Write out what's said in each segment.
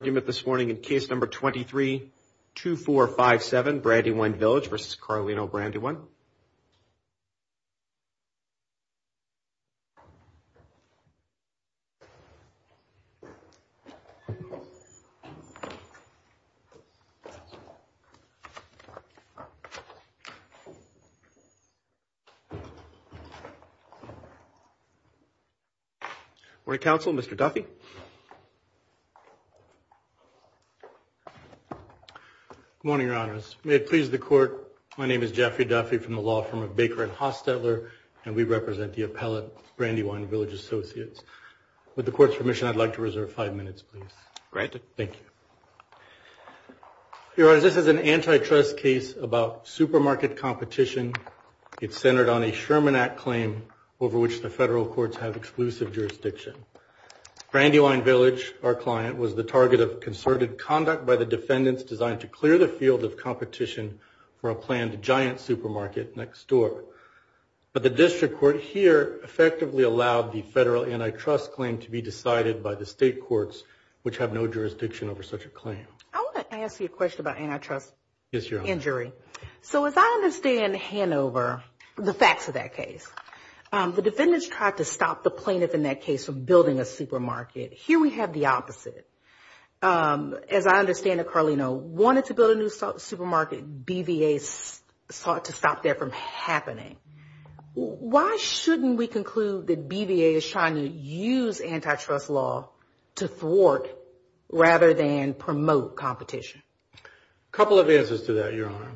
in case number 232457 Brandywine Village v. Carlino Brandywine. Good morning, Council. Mr. Duffy. Good morning, Your Honors. May it please the Court, my name is Jeffrey Duffy from the law firm of Baker and Hostetler, and we represent the appellate Brandywine Village Associates. With the Court's permission, I'd like to reserve five minutes, please. Granted. Thank you. Your Honors, this is an antitrust case about supermarket competition. It's centered on a Sherman Act claim over which the federal courts have exclusive jurisdiction. Brandywine Village, our client, was the target of concerted conduct by the defendants designed to clear the field of competition for a planned giant supermarket next door. But the district court here effectively allowed the federal antitrust claim to be decided by the state courts, which have no jurisdiction over such a claim. I want to ask you a question about antitrust injury. So as I understand Hanover, the facts of that case, the defendants tried to stop the plaintiff in that case from building a supermarket. Here we have the opposite. As I understand it, Carlino wanted to build a new supermarket, BVA sought to stop that from happening. Why shouldn't we conclude that BVA is trying to use antitrust law to thwart rather than promote competition? A couple of answers to that, Your Honor.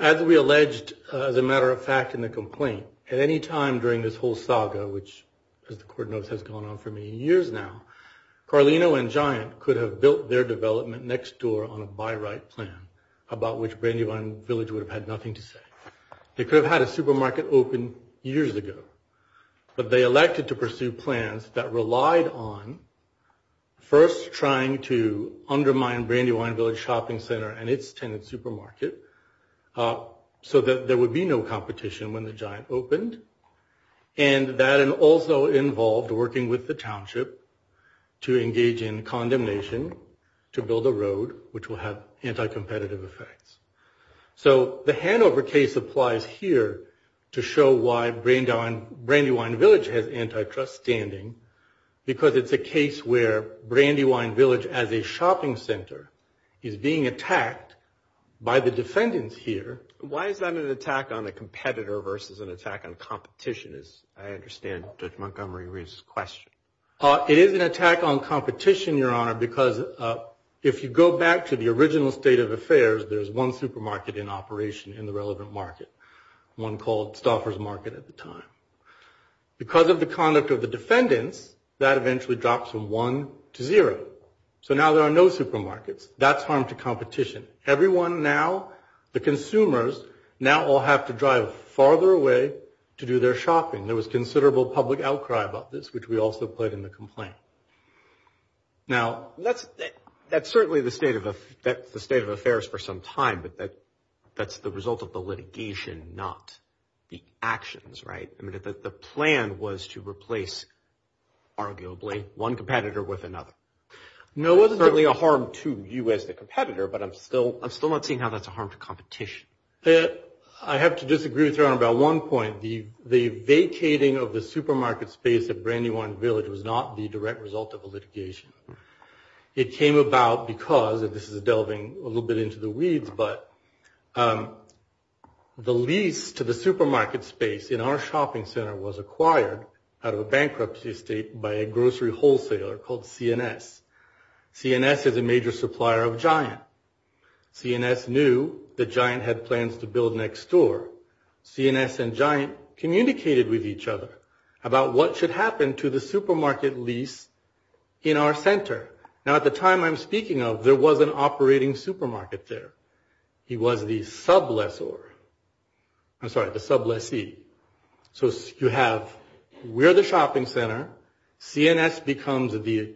As we alleged, as a matter of fact in the complaint, at any time during this whole saga, which as the court knows has gone on for many years now, Carlino and Giant could have built their development next door on a buy right plan about which Brandywine Village would have had nothing to say. They could have had a supermarket open years ago, but they elected to pursue plans that relied on first trying to undermine Brandywine Village Shopping Center and its tenant supermarket so that there would be no competition when the Giant opened. And that also involved working with the township to engage in condemnation to build a road which will have anti-competitive effects. So the Hanover case applies here to show why Brandywine Village has antitrust standing because it's a case where Brandywine Village as a shopping center is being attacked by the defendants here. Why is that an attack on a competitor versus an attack on competition, as I understand Judge Montgomery Reeves' question? It is an attack on competition, Your Honor, because if you go back to the original state of affairs, there's one supermarket in operation in the relevant market, one called Stauffer's Market at the time. Because of the conduct of the defendants, that eventually drops from 1 to 0. So now there are no supermarkets. That's harm to competition. Everyone now, the consumers, now all have to drive farther away to do their shopping. There was considerable public outcry about this, which we also played in the complaint. Now, that's certainly the state of affairs for some time, but that's the result of the litigation, not the actions, right? I mean, the plan was to replace arguably one competitor with another. No, it's certainly a harm to you as the competitor, but I'm still not seeing how that's a harm to competition. I have to disagree with Your Honor about one point. The vacating of the supermarket space at Brandywine Village was not the direct result of a litigation. It came about because, and this is delving a little bit into the weeds, but the lease to the supermarket space in our shopping center was acquired out of a bankruptcy estate by a grocery wholesaler called CNS. CNS is a major supplier of Giant. CNS knew that Giant had plans to build next door. CNS and Giant communicated with each other about what should happen to the supermarket lease in our center. Now, at the time I'm speaking of, there was an operating supermarket there. He was the sub-lessor. I'm sorry, the sub-lessee. So you have, we're the shopping center. CNS becomes the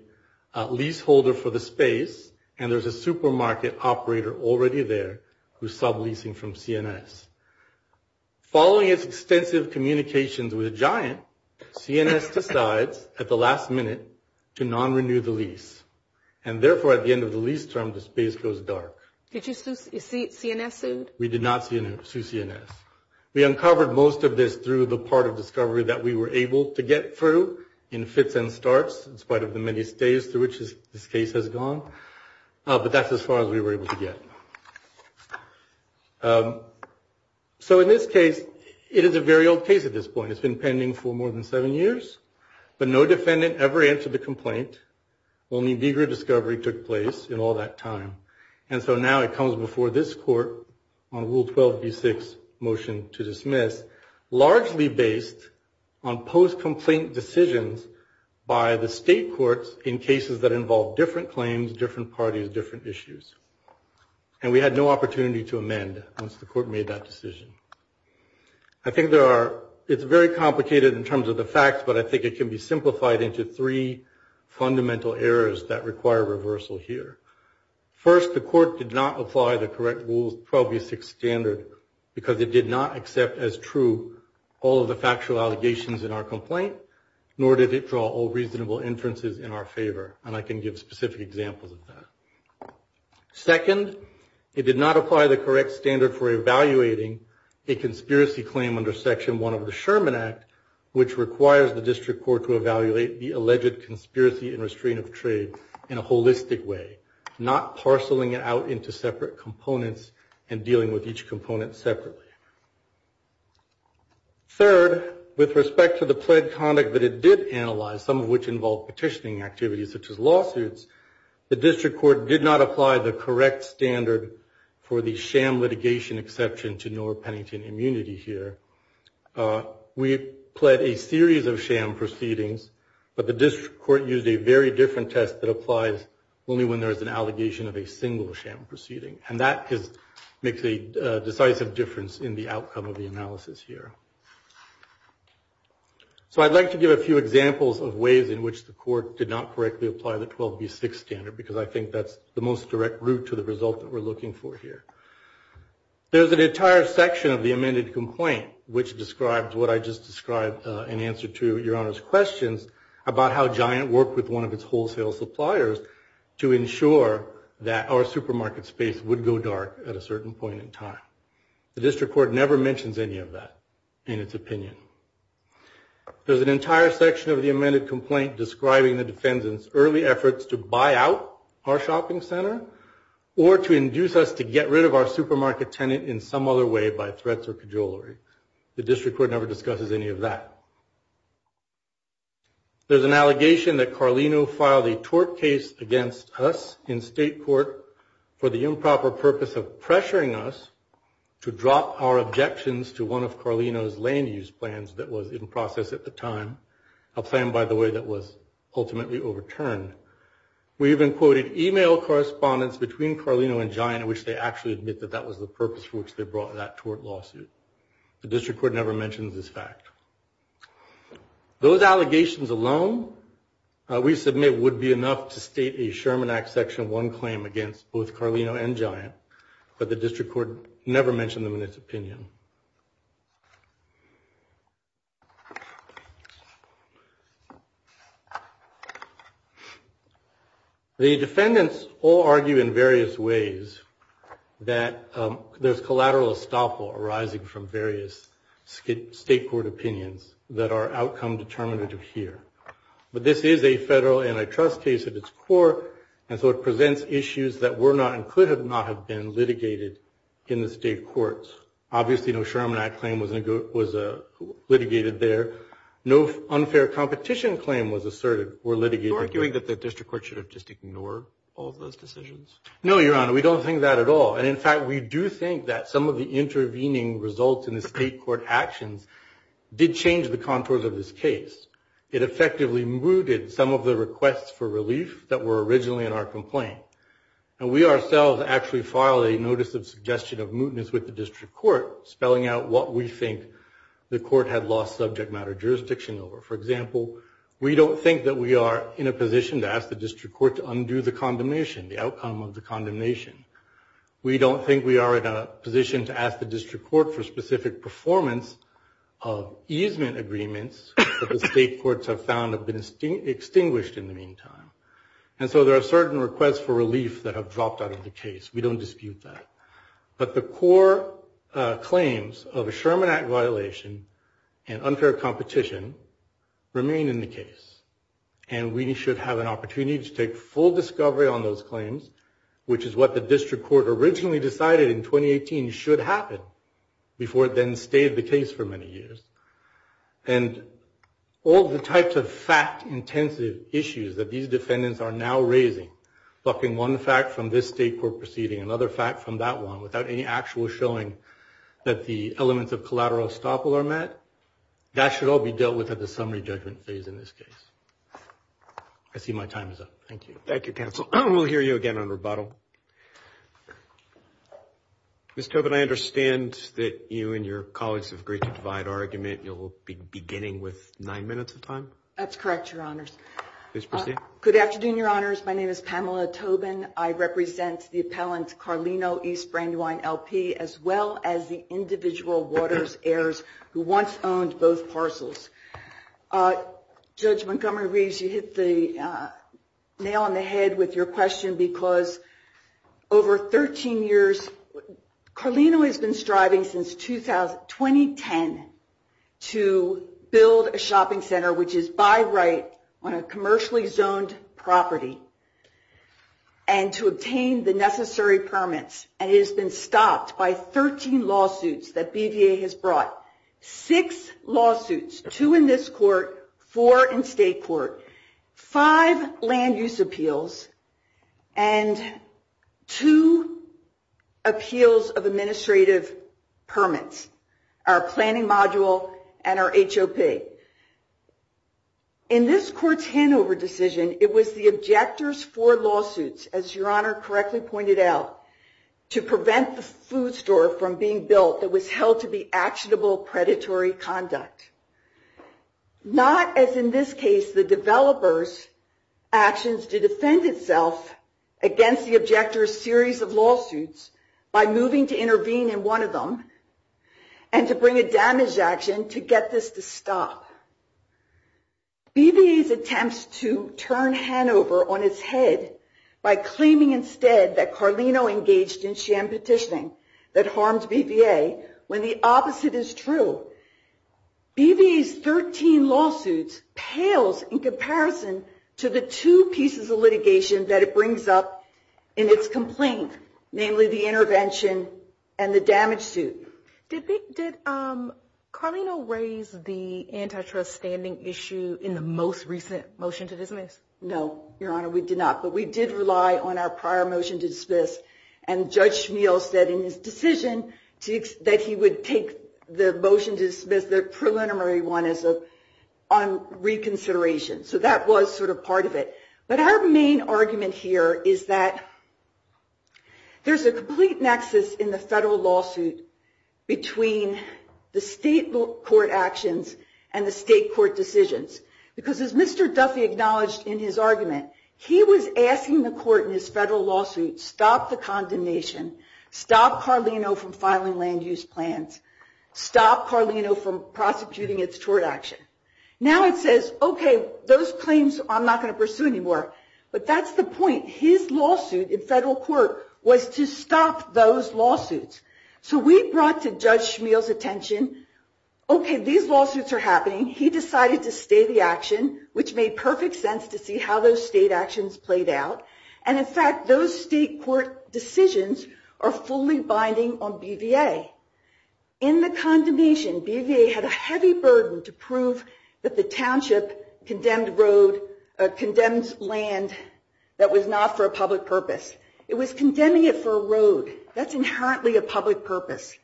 leaseholder for the space, and there's a supermarket operator already there who's sub-leasing from CNS. Following its extensive communications with Giant, CNS decides at the last minute to non-renew the lease. And therefore, at the end of the lease term, the space goes dark. Did you sue, is CNS sued? We did not sue CNS. We uncovered most of this through the part of discovery that we were able to get through in fits and starts in spite of the many stays through which this case has gone. But that's as far as we were able to get. So in this case, it is a very old case at this point. It's been pending for more than seven years, but no defendant ever answered the complaint. Only vigorous discovery took place in all that time. And so now it comes before this court on Rule 12b-6 motion to dismiss, largely based on post-complaint decisions by the state courts in cases that involve different claims, different parties, different issues. And we had no opportunity to amend once the court made that decision. I think there are, it's very complicated in terms of the facts, but I think it can be simplified into three fundamental errors that require reversal here. First, the court did not apply the correct rules 12b-6 standard because it did not accept as true all of the factual allegations in our complaint, nor did it draw all reasonable inferences in our favor. And I can give specific examples of that. Second, it did not apply the correct standard for evaluating a conspiracy claim under section one of the Sherman Act, which requires the district court to evaluate the trade in a holistic way, not parceling it out into separate components and dealing with each component separately. Third, with respect to the pled conduct that it did analyze, some of which involved petitioning activities such as lawsuits, the district court did not apply the correct standard for the sham litigation exception to Norr-Pennington immunity here. We pled a series of sham proceedings, but the district court used a very different test that applies only when there is an allegation of a single sham proceeding. And that makes a decisive difference in the outcome of the analysis here. So I'd like to give a few examples of ways in which the court did not correctly apply the 12b-6 standard because I think that's the most direct route to the result that we're looking for here. There's an entire section of the amended complaint, which describes what I just described in answer to Your Honor's questions about how Giant worked with one of its wholesale suppliers to ensure that our supermarket space would go dark at a certain point in time. The district court never mentions any of that in its opinion. There's an entire section of the amended complaint describing the defendant's early efforts to buy out our shopping center or to induce us to get rid of our supermarket tenant in some other way by threats or cajolery. The district court never discusses any of that. There's an allegation that Carlino filed a tort case against us in state court for the improper purpose of pressuring us to drop our objections to one of Carlino's land use plans that was in process at the time. A plan, by the way, that was ultimately overturned. We even quoted email correspondence between Carlino and Giant in which they actually admit that that was the purpose for which they brought that tort lawsuit. The district court never mentions this fact. Those allegations alone, we submit, would be enough to state a Sherman Act Section 1 claim against both Carlino and Giant, but the district court never mentioned them in its opinion. The defendants all argue in various ways that there's collateral estoppel arising from various state court opinions that are outcome determinative here. But this is a federal antitrust case at its core, and so it presents issues that were not and could not have been litigated in the state courts. Obviously, no Sherman Act claim was litigated there. No unfair competition claim was asserted or litigated. You're arguing that the district court should have just ignored all of those decisions? No, Your Honor, we don't think that at all. And in fact, we do think that some of the intervening results in the state court actions did change the contours of this case. It effectively mooted some of the requests for relief that were originally in our complaint. And we ourselves actually filed a notice of suggestion of mootness with the district court, spelling out what we think the court had lost subject matter jurisdiction over. For example, we don't think that we are in a position to ask the district court to undo the condemnation, the outcome of the condemnation. We don't think we are in a position to ask the district court for specific performance of easement agreements that the state courts have found have been extinguished in the meantime. And so there are certain requests for relief that have dropped out of the case. We don't dispute that. But the core claims of a Sherman Act violation and unfair competition remain in the case. And we should have an opportunity to take full discovery on those claims, which is what the district court originally decided in 2018 should happen before it then stayed the case for many years. And all the types of fact-intensive issues that these defendants are now raising, bucking one fact from this state court proceeding, another fact from that one, without any actual showing that the elements of collateral estoppel are met, that should all be dealt with at the summary judgment phase in this case. I see my time is up. Thank you. Thank you, counsel. We'll hear you again on rebuttal. Ms. Tobin, I understand that you and your colleagues have agreed to divide argument. You'll be beginning with nine minutes of time. That's correct, Your Honors. Please proceed. Good afternoon, Your Honors. My name is Pamela Tobin. I represent the appellant Carlino East Brandywine, L.P., as well as the individual Waters heirs who once owned both parcels. Judge Montgomery Reeves, you hit the nail on the head with your question, because over 13 years Carlino has been striving since 2010 to build a shopping center, which is by right on a commercially zoned property, and to obtain the necessary permits. And it has been stopped by 13 lawsuits that BVA has brought. Six lawsuits, two in this court, four in state court, five land use appeals, and two appeals of administrative permits, our planning module and our HOP. In this court's handover decision, it was the objector's four lawsuits, as Your Honor correctly pointed out, to prevent the food store from being built that was held to be actionable predatory conduct. Not as in this case the developer's actions to defend itself against the objector's series of lawsuits by moving to intervene in one of them, and to bring a damage action to get this to stop. BVA's attempts to turn Hanover on its head by claiming instead that Carlino engaged in crimes that harmed BVA, when the opposite is true, BVA's 13 lawsuits pales in comparison to the two pieces of litigation that it brings up in its complaint, namely the intervention and the damage suit. Did Carlino raise the antitrust standing issue in the most recent motion to dismiss? No, Your Honor, we did not. But we did rely on our prior motion to dismiss. And Judge Schmeel said in his decision that he would take the motion to dismiss, the preliminary one, on reconsideration. So that was sort of part of it. But our main argument here is that there's a complete nexus in the federal lawsuit between the state court actions and the state court decisions. Because as Mr. Duffy acknowledged in his argument, he was asking the court in his federal lawsuit, stop the condemnation, stop Carlino from filing land use plans, stop Carlino from prosecuting its tort action. Now it says, OK, those claims I'm not going to pursue anymore. But that's the point. His lawsuit in federal court was to stop those lawsuits. So we brought to Judge Schmeel's attention, OK, these lawsuits are happening. He decided to stay the action, which made perfect sense to see how those state actions played out. And in fact, those state court decisions are fully binding on BVA. In the condemnation, BVA had a heavy burden to prove that the township condemned road, condemned land that was not for a public purpose. It was condemning it for a road. That's inherently a public purpose.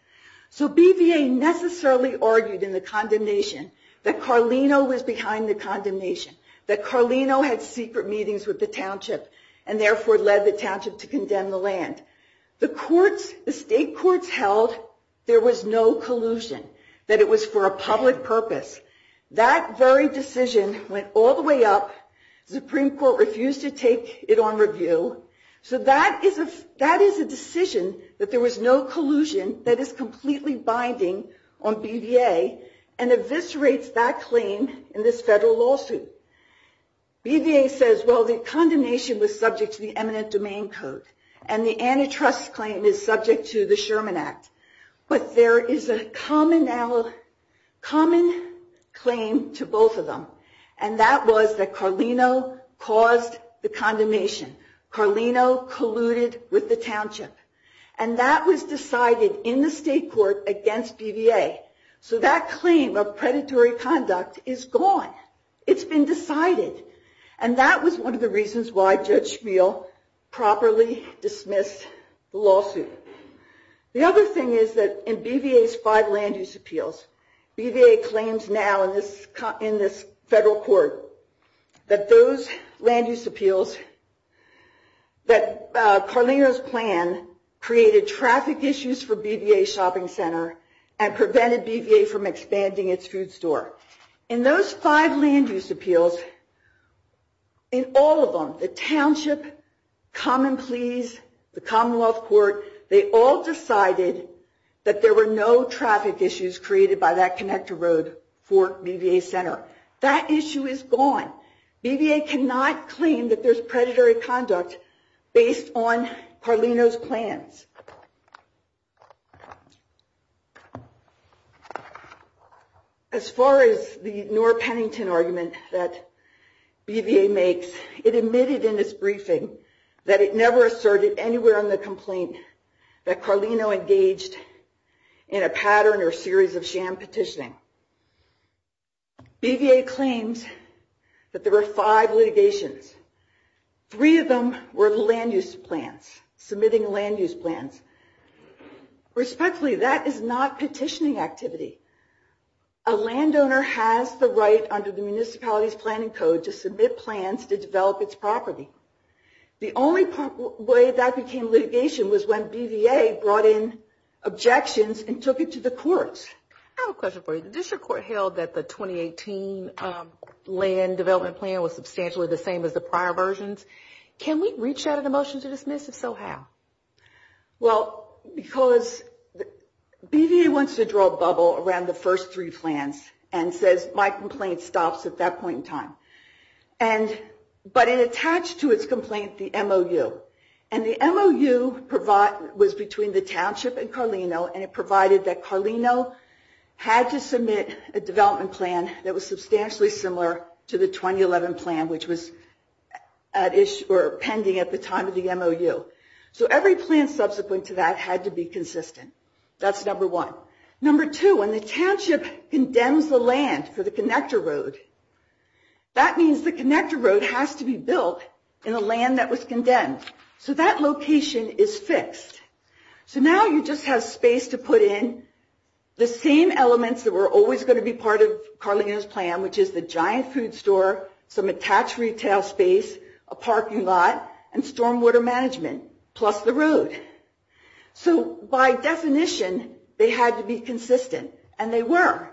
So BVA necessarily argued in the condemnation that Carlino was behind the condemnation, that Carlino had secret meetings with the township, and therefore led the township to condemn the land. The state courts held there was no collusion, that it was for a public purpose. That very decision went all the way up. The Supreme Court refused to take it on review. So that is a decision that there was no collusion that is completely binding on BVA and eviscerates that claim in this federal lawsuit. BVA says, well, the condemnation was subject to the eminent domain code. And the antitrust claim is subject to the Sherman Act. But there is a common claim to both of them. And that was that Carlino caused the condemnation. Carlino colluded with the township. And that was decided in the state court against BVA. So that claim of predatory conduct is gone. It's been decided. And that was one of the reasons why Judge Schmiel properly dismissed the lawsuit. The other thing is that in BVA's five land use appeals, BVA claims now in this federal court that those land use appeals, that Carlino's plan created traffic issues for BVA Shopping Center and prevented BVA from expanding its food store. In those five land use appeals, in all of them, the township, Common Pleas, the Commonwealth Court, they all decided that there were no traffic issues created by that connector road for BVA Center. That issue is gone. BVA cannot claim that there's predatory conduct based on Carlino's plans. As far as the Nora Pennington argument that BVA makes, it admitted in its briefing that it never asserted anywhere in the complaint that Carlino engaged in a pattern or series of sham petitioning. BVA claims that there were five litigations. Three of them were the land use plans, submitting land use plans. Respectfully, that is not petitioning activity. A landowner has the right under the municipality's planning code to submit plans to develop its own. The second way that became litigation was when BVA brought in objections and took it to the courts. I have a question for you. The district court held that the 2018 land development plan was substantially the same as the prior versions. Can we reach out a motion to dismiss? If so, how? Well, because BVA wants to draw a bubble around the first three plans and says, my complaint stops at that point in time. But it attached to its complaint the MOU. The MOU was between the township and Carlino, and it provided that Carlino had to submit a development plan that was substantially similar to the 2011 plan, which was pending at the time of the MOU. So every plan subsequent to that had to be consistent. That's number one. Number two, when the township condemns the land for the connector road, that means the connector road has to be built in the land that was condemned. So that location is fixed. So now you just have space to put in the same elements that were always going to be part of Carlino's plan, which is the giant food store, some attached retail space, a parking lot, and stormwater management, plus the road. So by definition, they had to be consistent, and they were.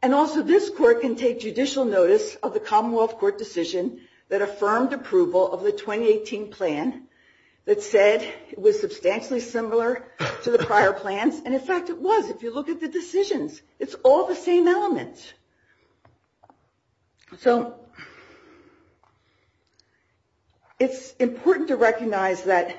And also this court can take judicial notice of the Commonwealth Court decision that affirmed approval of the 2018 plan that said it was substantially similar to the prior plans. And in fact it was, if you look at the decisions. It's all the same elements. So it's important to recognize that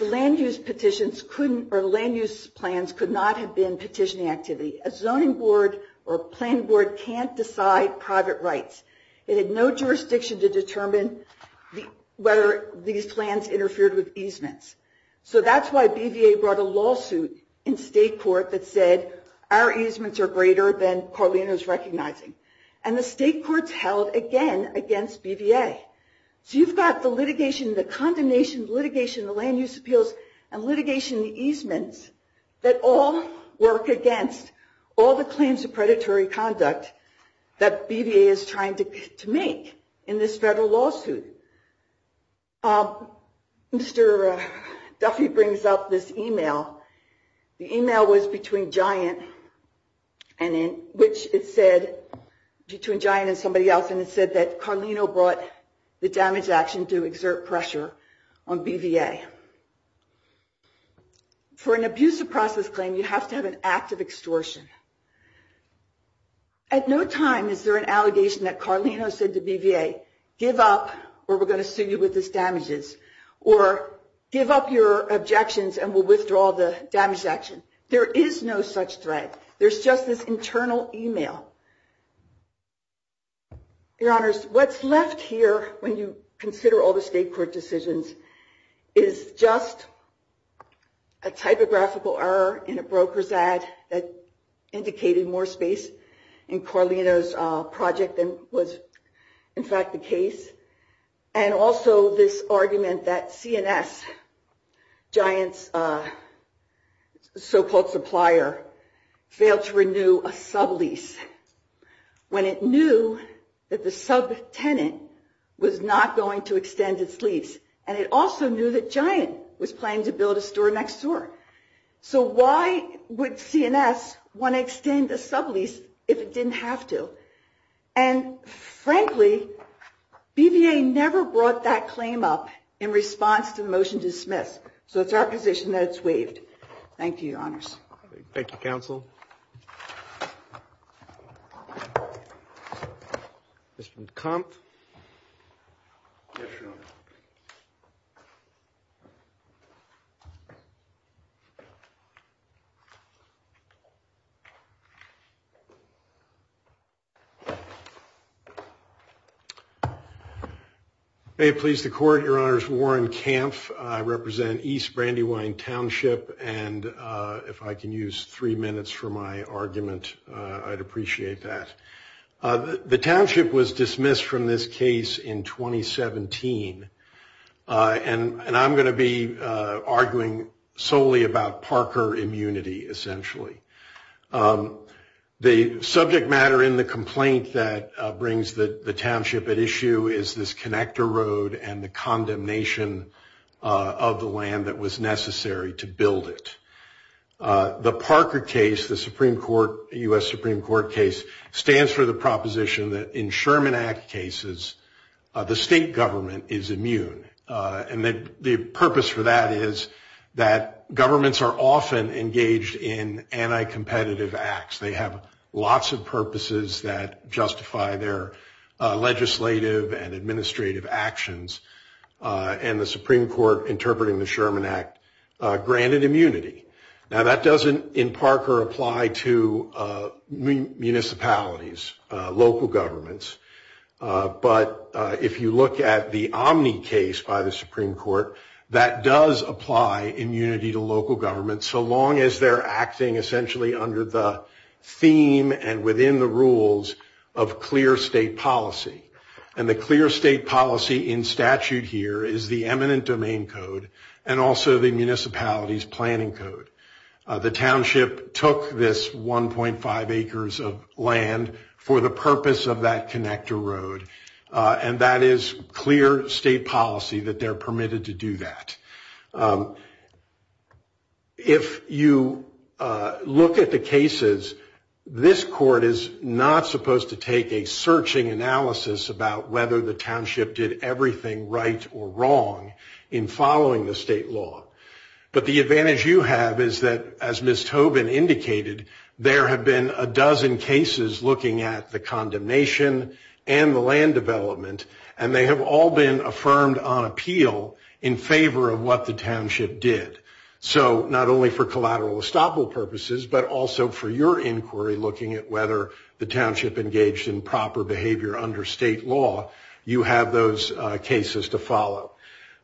land use petitions couldn't, or land use plans could not have been petitioning activity. A zoning board or a planning board can't decide private rights. It had no jurisdiction to determine whether these plans interfered with easements. So that's why BVA brought a lawsuit in state court that said our easements are greater than Carlino's recognizing. And the state courts held again against BVA. So you've got the litigation, the condemnation, the litigation, the land use appeals, and litigation easements that all work against all the claims of predatory conduct that BVA is trying to make in this federal lawsuit. Mr. Duffy brings up this email. The email was between Giant and somebody else. And it said that Carlino brought the damage action to exert pressure on BVA. For an abusive process claim, you have to have an act of extortion. At no time is there an allegation that Carlino said to BVA, give up or we're going to sue you with this damages. Or give up your objections and we'll withdraw the damage action. There is no such threat. There's just this internal email. Your honors, what's left here when you consider all the state court decisions is just a typographical error in a broker's ad that indicated more space in Carlino's project than was in fact the case. And also this argument that CNS, Giant's so-called supplier, failed to renew a sublease when it knew that the subtenant was not going to extend its lease. And it also knew that Giant was planning to build a store next door. So why would CNS want to extend the sublease if it didn't have to? And frankly, BVA never brought that claim up in response to the motion to dismiss. So it's our position that it's waived. Thank you, your honors. Thank you, counsel. Mr. Kampf. Yes, your honor. May it please the court, your honors, Warren Kampf. I represent East Brandywine Township. And if I can use three minutes for my argument, I'd appreciate that. The township was dismissed from this case in 2017. And I'm going to be arguing solely about Parker immunity, essentially. The subject matter in the complaint that brings the township at issue is this connector road and the condemnation of the land that was necessary to build it. The Parker case, the Supreme Court, U.S. Supreme Court case, stands for the proposition that in Sherman Act cases, the state government is immune. And the purpose for that is that governments are often engaged in anti-competitive acts. They have lots of purposes that justify their legislative and administrative actions. And the Supreme Court, interpreting the Sherman Act, granted immunity. Now that doesn't, in Parker, apply to municipalities, local governments. But if you look at the Omni case by the Supreme Court, that does apply immunity to local governments so long as they're acting essentially under the theme and within the rules of clear state policy. And the clear state policy in statute here is the eminent domain code and also the municipality's planning code. The township took this 1.5 acres of land for the purpose of that connector road. And that is clear state policy that they're permitted to do that. If you look at the cases, this court is not supposed to take a searching analysis about whether the township did everything right or wrong in following the state law. But the advantage you have is that, as Ms. Tobin indicated, there have been a dozen cases looking at the condemnation and the land development. And they have all been affirmed on appeal in favor of what the township did. So not only for collateral estoppel purposes, but also for your inquiry looking at whether the township engaged in proper behavior under state law, you have those cases to follow.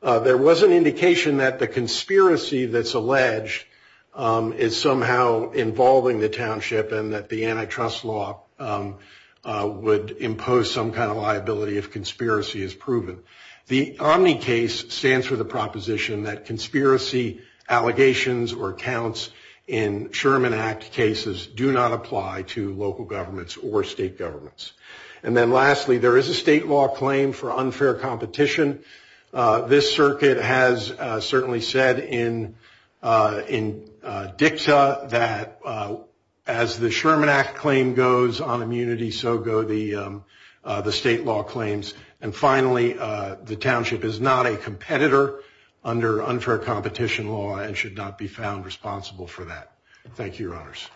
There was an indication that the conspiracy that's alleged is somehow involving the township and that the antitrust law would impose some kind of liability if conspiracy is proven. The Omni case stands for the proposition that conspiracy allegations or accounts in Sherman Act cases do not apply to local governments or state governments. And then lastly, there is a state law claim for unfair competition. This circuit has certainly said in dicta that as the Sherman Act claim goes on immunity, so go the state law claims. And finally, the township is not a competitor under unfair competition law and should not be found responsible for that. Thank you, Your Honors.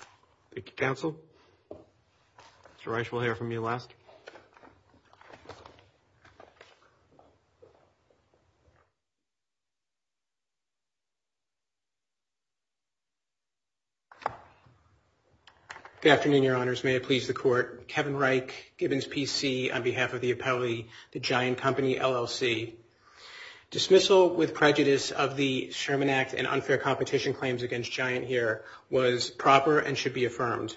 Thank you, Counsel. Mr. Reich, we'll hear from you last. Good afternoon, Your Honors. May it please the Court. Kevin Reich, Gibbons PC on behalf of the appellee, the Giant Company, LLC. Dismissal with prejudice of the Sherman Act and unfair competition claims against Giant here was proper and should be affirmed.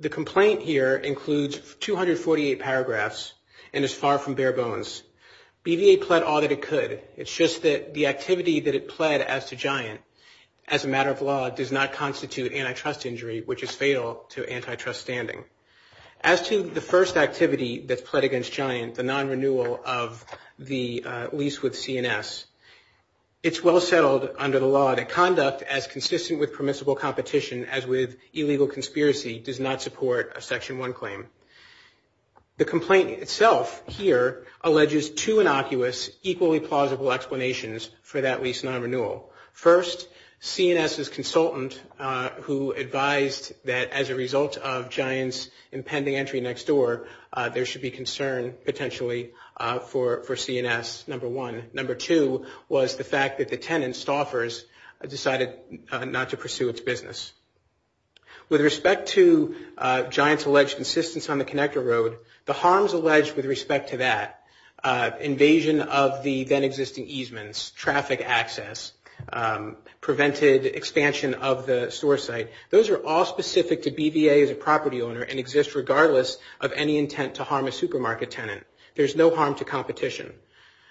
The complaint here includes 248 paragraphs and is far from bare bones. BVA pled all that it could. It's just that the activity that it pled as to Giant as a matter of law does not constitute antitrust injury, which is fatal to antitrust standing. As to the first activity that pled against Giant, the non-renewal of the lease with CNS, it's well settled under the law that conduct as consistent with permissible competition as with illegal conspiracy does not support a Section 1 claim. The complaint itself here alleges two innocuous, equally plausible explanations for that lease non-renewal. First, CNS' consultant who advised that as a result of Giant's impending entry next door, there should be concern potentially for CNS, number one. Number two was the fact that the tenant, Stauffer's, decided not to pursue its business. With respect to Giant's alleged insistence on the connector road, the harms of the then existing easements, traffic access, prevented expansion of the store site, those are all specific to BVA as a property owner and exist regardless of any intent to harm a supermarket tenant. There's no harm to competition.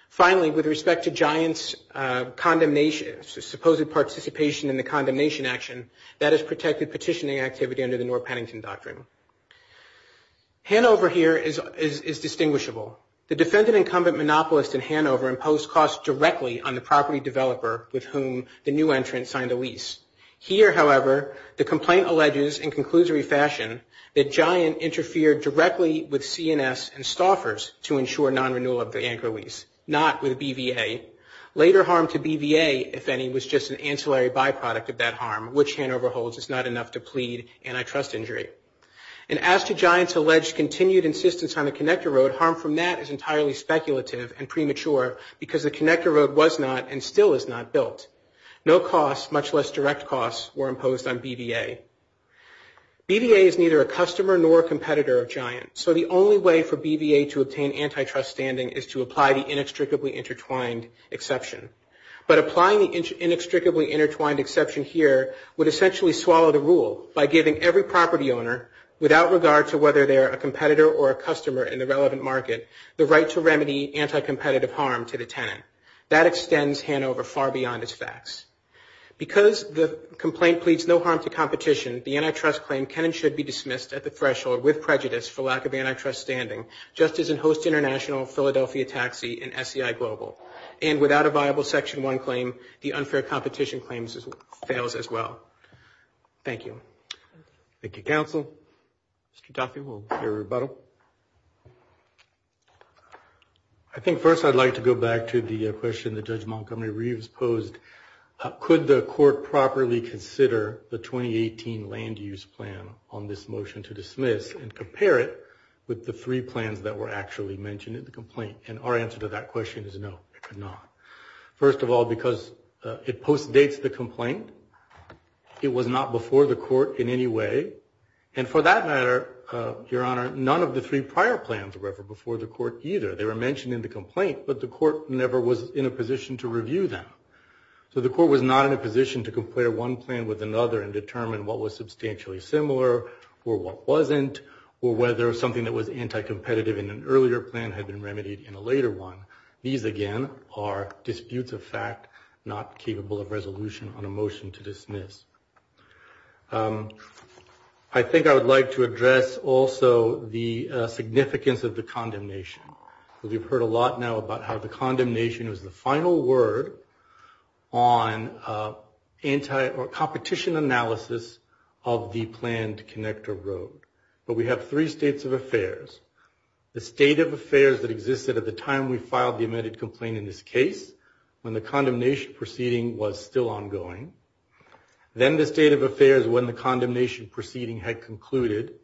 Finally, with respect to Giant's supposed participation in the condemnation action, that is protected petitioning activity under the Norr-Pennington Doctrine. Handover here is distinguishable. The defendant incumbent monopolist in Handover imposed costs directly on the property developer with whom the new entrant signed the lease. Here, however, the complaint alleges in conclusory fashion that Giant interfered directly with CNS and Stauffer's to ensure non-renewal of the anchor lease, not with BVA. Later harm to BVA, if any, was just an ancillary byproduct of that harm, which Handover holds is not enough to plead antitrust injury. And as to Giant's alleged continued insistence on the connector road, harm from that is entirely speculative and premature because the connector road was not and still is not built. No costs, much less direct costs, were imposed on BVA. BVA is neither a customer nor a competitor of Giant, so the only way for BVA to obtain antitrust standing is to apply the inextricably intertwined exception. But applying the inextricably intertwined exception here would essentially swallow the rule by giving every property owner, without regard to whether they're a competitor or a customer in the relevant market, the right to remedy anti-competitive harm to the tenant. That extends Handover far beyond its facts. Because the complaint pleads no harm to competition, the antitrust claim can and should be dismissed at the threshold with prejudice for lack of antitrust standing, just as in Host International, Philadelphia Taxi, and SEI Global. And without a viable Section 1 claim, the unfair competition claim fails as well. Thank you. Thank you, counsel. Mr. Taffey, we'll hear a rebuttal. I think first I'd like to go back to the question that Judge Montgomery Reeves posed. Could the court properly consider the 2018 land use plan on this motion to dismiss and compare it with the three plans that were actually mentioned in the complaint? And our answer to that question is no, it could not. First of all, because it postdates the complaint. It was not before the court in any way. And for that matter, Your Honor, none of the three prior plans were ever before the court either. They were mentioned in the complaint, but the court never was in a position to review them. So the court was not in a position to compare one plan with another and determine what was substantially similar, or what wasn't, or whether something that was anti-competitive in an earlier plan had been remedied in a later plan. And these, again, are disputes of fact, not capable of resolution on a motion to dismiss. I think I would like to address also the significance of the condemnation. We've heard a lot now about how the condemnation is the final word on competition analysis of the planned connector road. But we have three states of affairs. The state of affairs that existed at the time we filed the amended complaint in this case, when the condemnation proceeding was still ongoing. Then the state of affairs when the condemnation proceeding had concluded.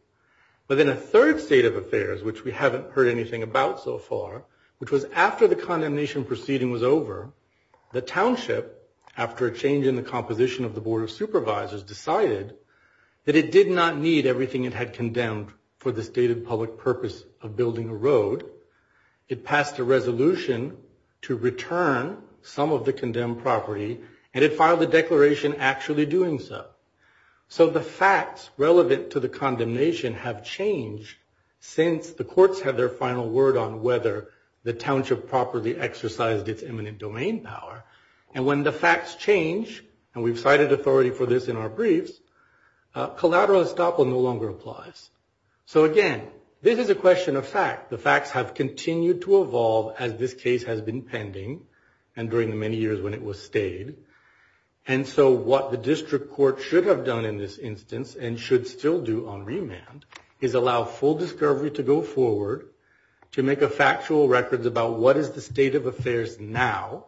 But then a third state of affairs, which we haven't heard anything about so far, which was after the condemnation proceeding was over, the township, after a change in the composition of the Board of Supervisors, decided that it did not need everything it had condemned for the stated public purpose of building a road. It passed a resolution to return some of the condemned property and it filed a declaration actually doing so. So the facts relevant to the condemnation have changed since the courts had their final word on whether the township properly exercised its eminent domain power. And when the facts change, and we've cited authority for this in our briefs, collateral estoppel no longer applies. So again, this is a question of fact. The facts have continued to evolve as this case has been pending and during the many years when it was stayed. And so what the district court should have done in this instance and should still do on remand is allow full discovery to go forward, to make a factual record about what is the state of affairs now,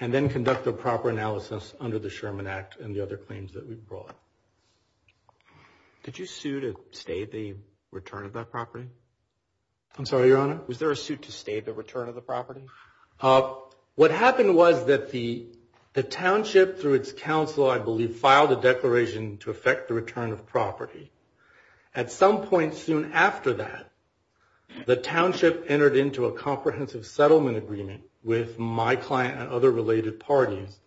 and then conduct a proper analysis under the Sherman Act and the other claims that we brought. Did you sue to stay the return of that property? I'm sorry, Your Honor? Was there a suit to stay the return of the property? What happened was that the township through its council, I believe, filed a declaration to affect the return of property. At some point soon after that, the township entered into a comprehensive settlement agreement with my client and other related parties,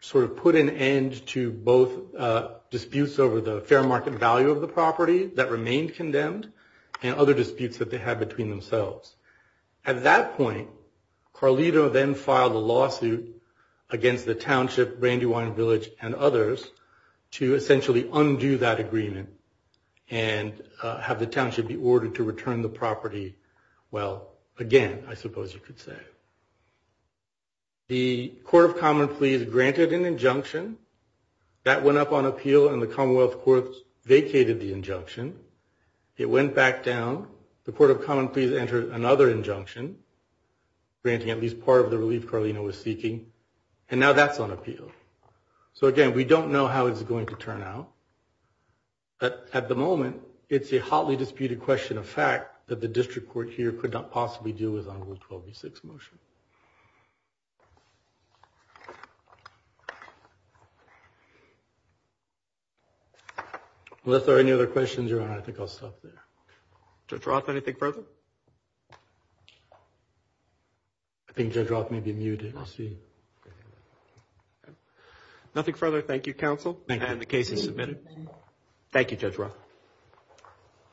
sort of put an end to both disputes over the fair market value of the property that remained condemned and other disputes that they had between themselves. At that point, Carlito then filed a lawsuit against the township, Brandywine Village, and others to essentially undo that agreement and have the township be ordered to return the property, well, again, I suppose you could say. The Court of Common Pleas granted an injunction. That went up on appeal and the Commonwealth Court vacated the injunction. It went back down. The Court of Common Pleas entered another injunction, granting at least part of the relief Carlito was seeking, and now that's on appeal. So again, we don't know how it's going to turn out. But at the moment, it's a hotly disputed question of fact that the district court here could not possibly do as on Rule 12b6 motion. Unless there are any other questions, Your Honor, I think I'll stop there. Judge Roth, anything further? I think Judge Roth may be muted. Nothing further. Thank you, Counsel. And the case is submitted. Thank you, Judge Roth.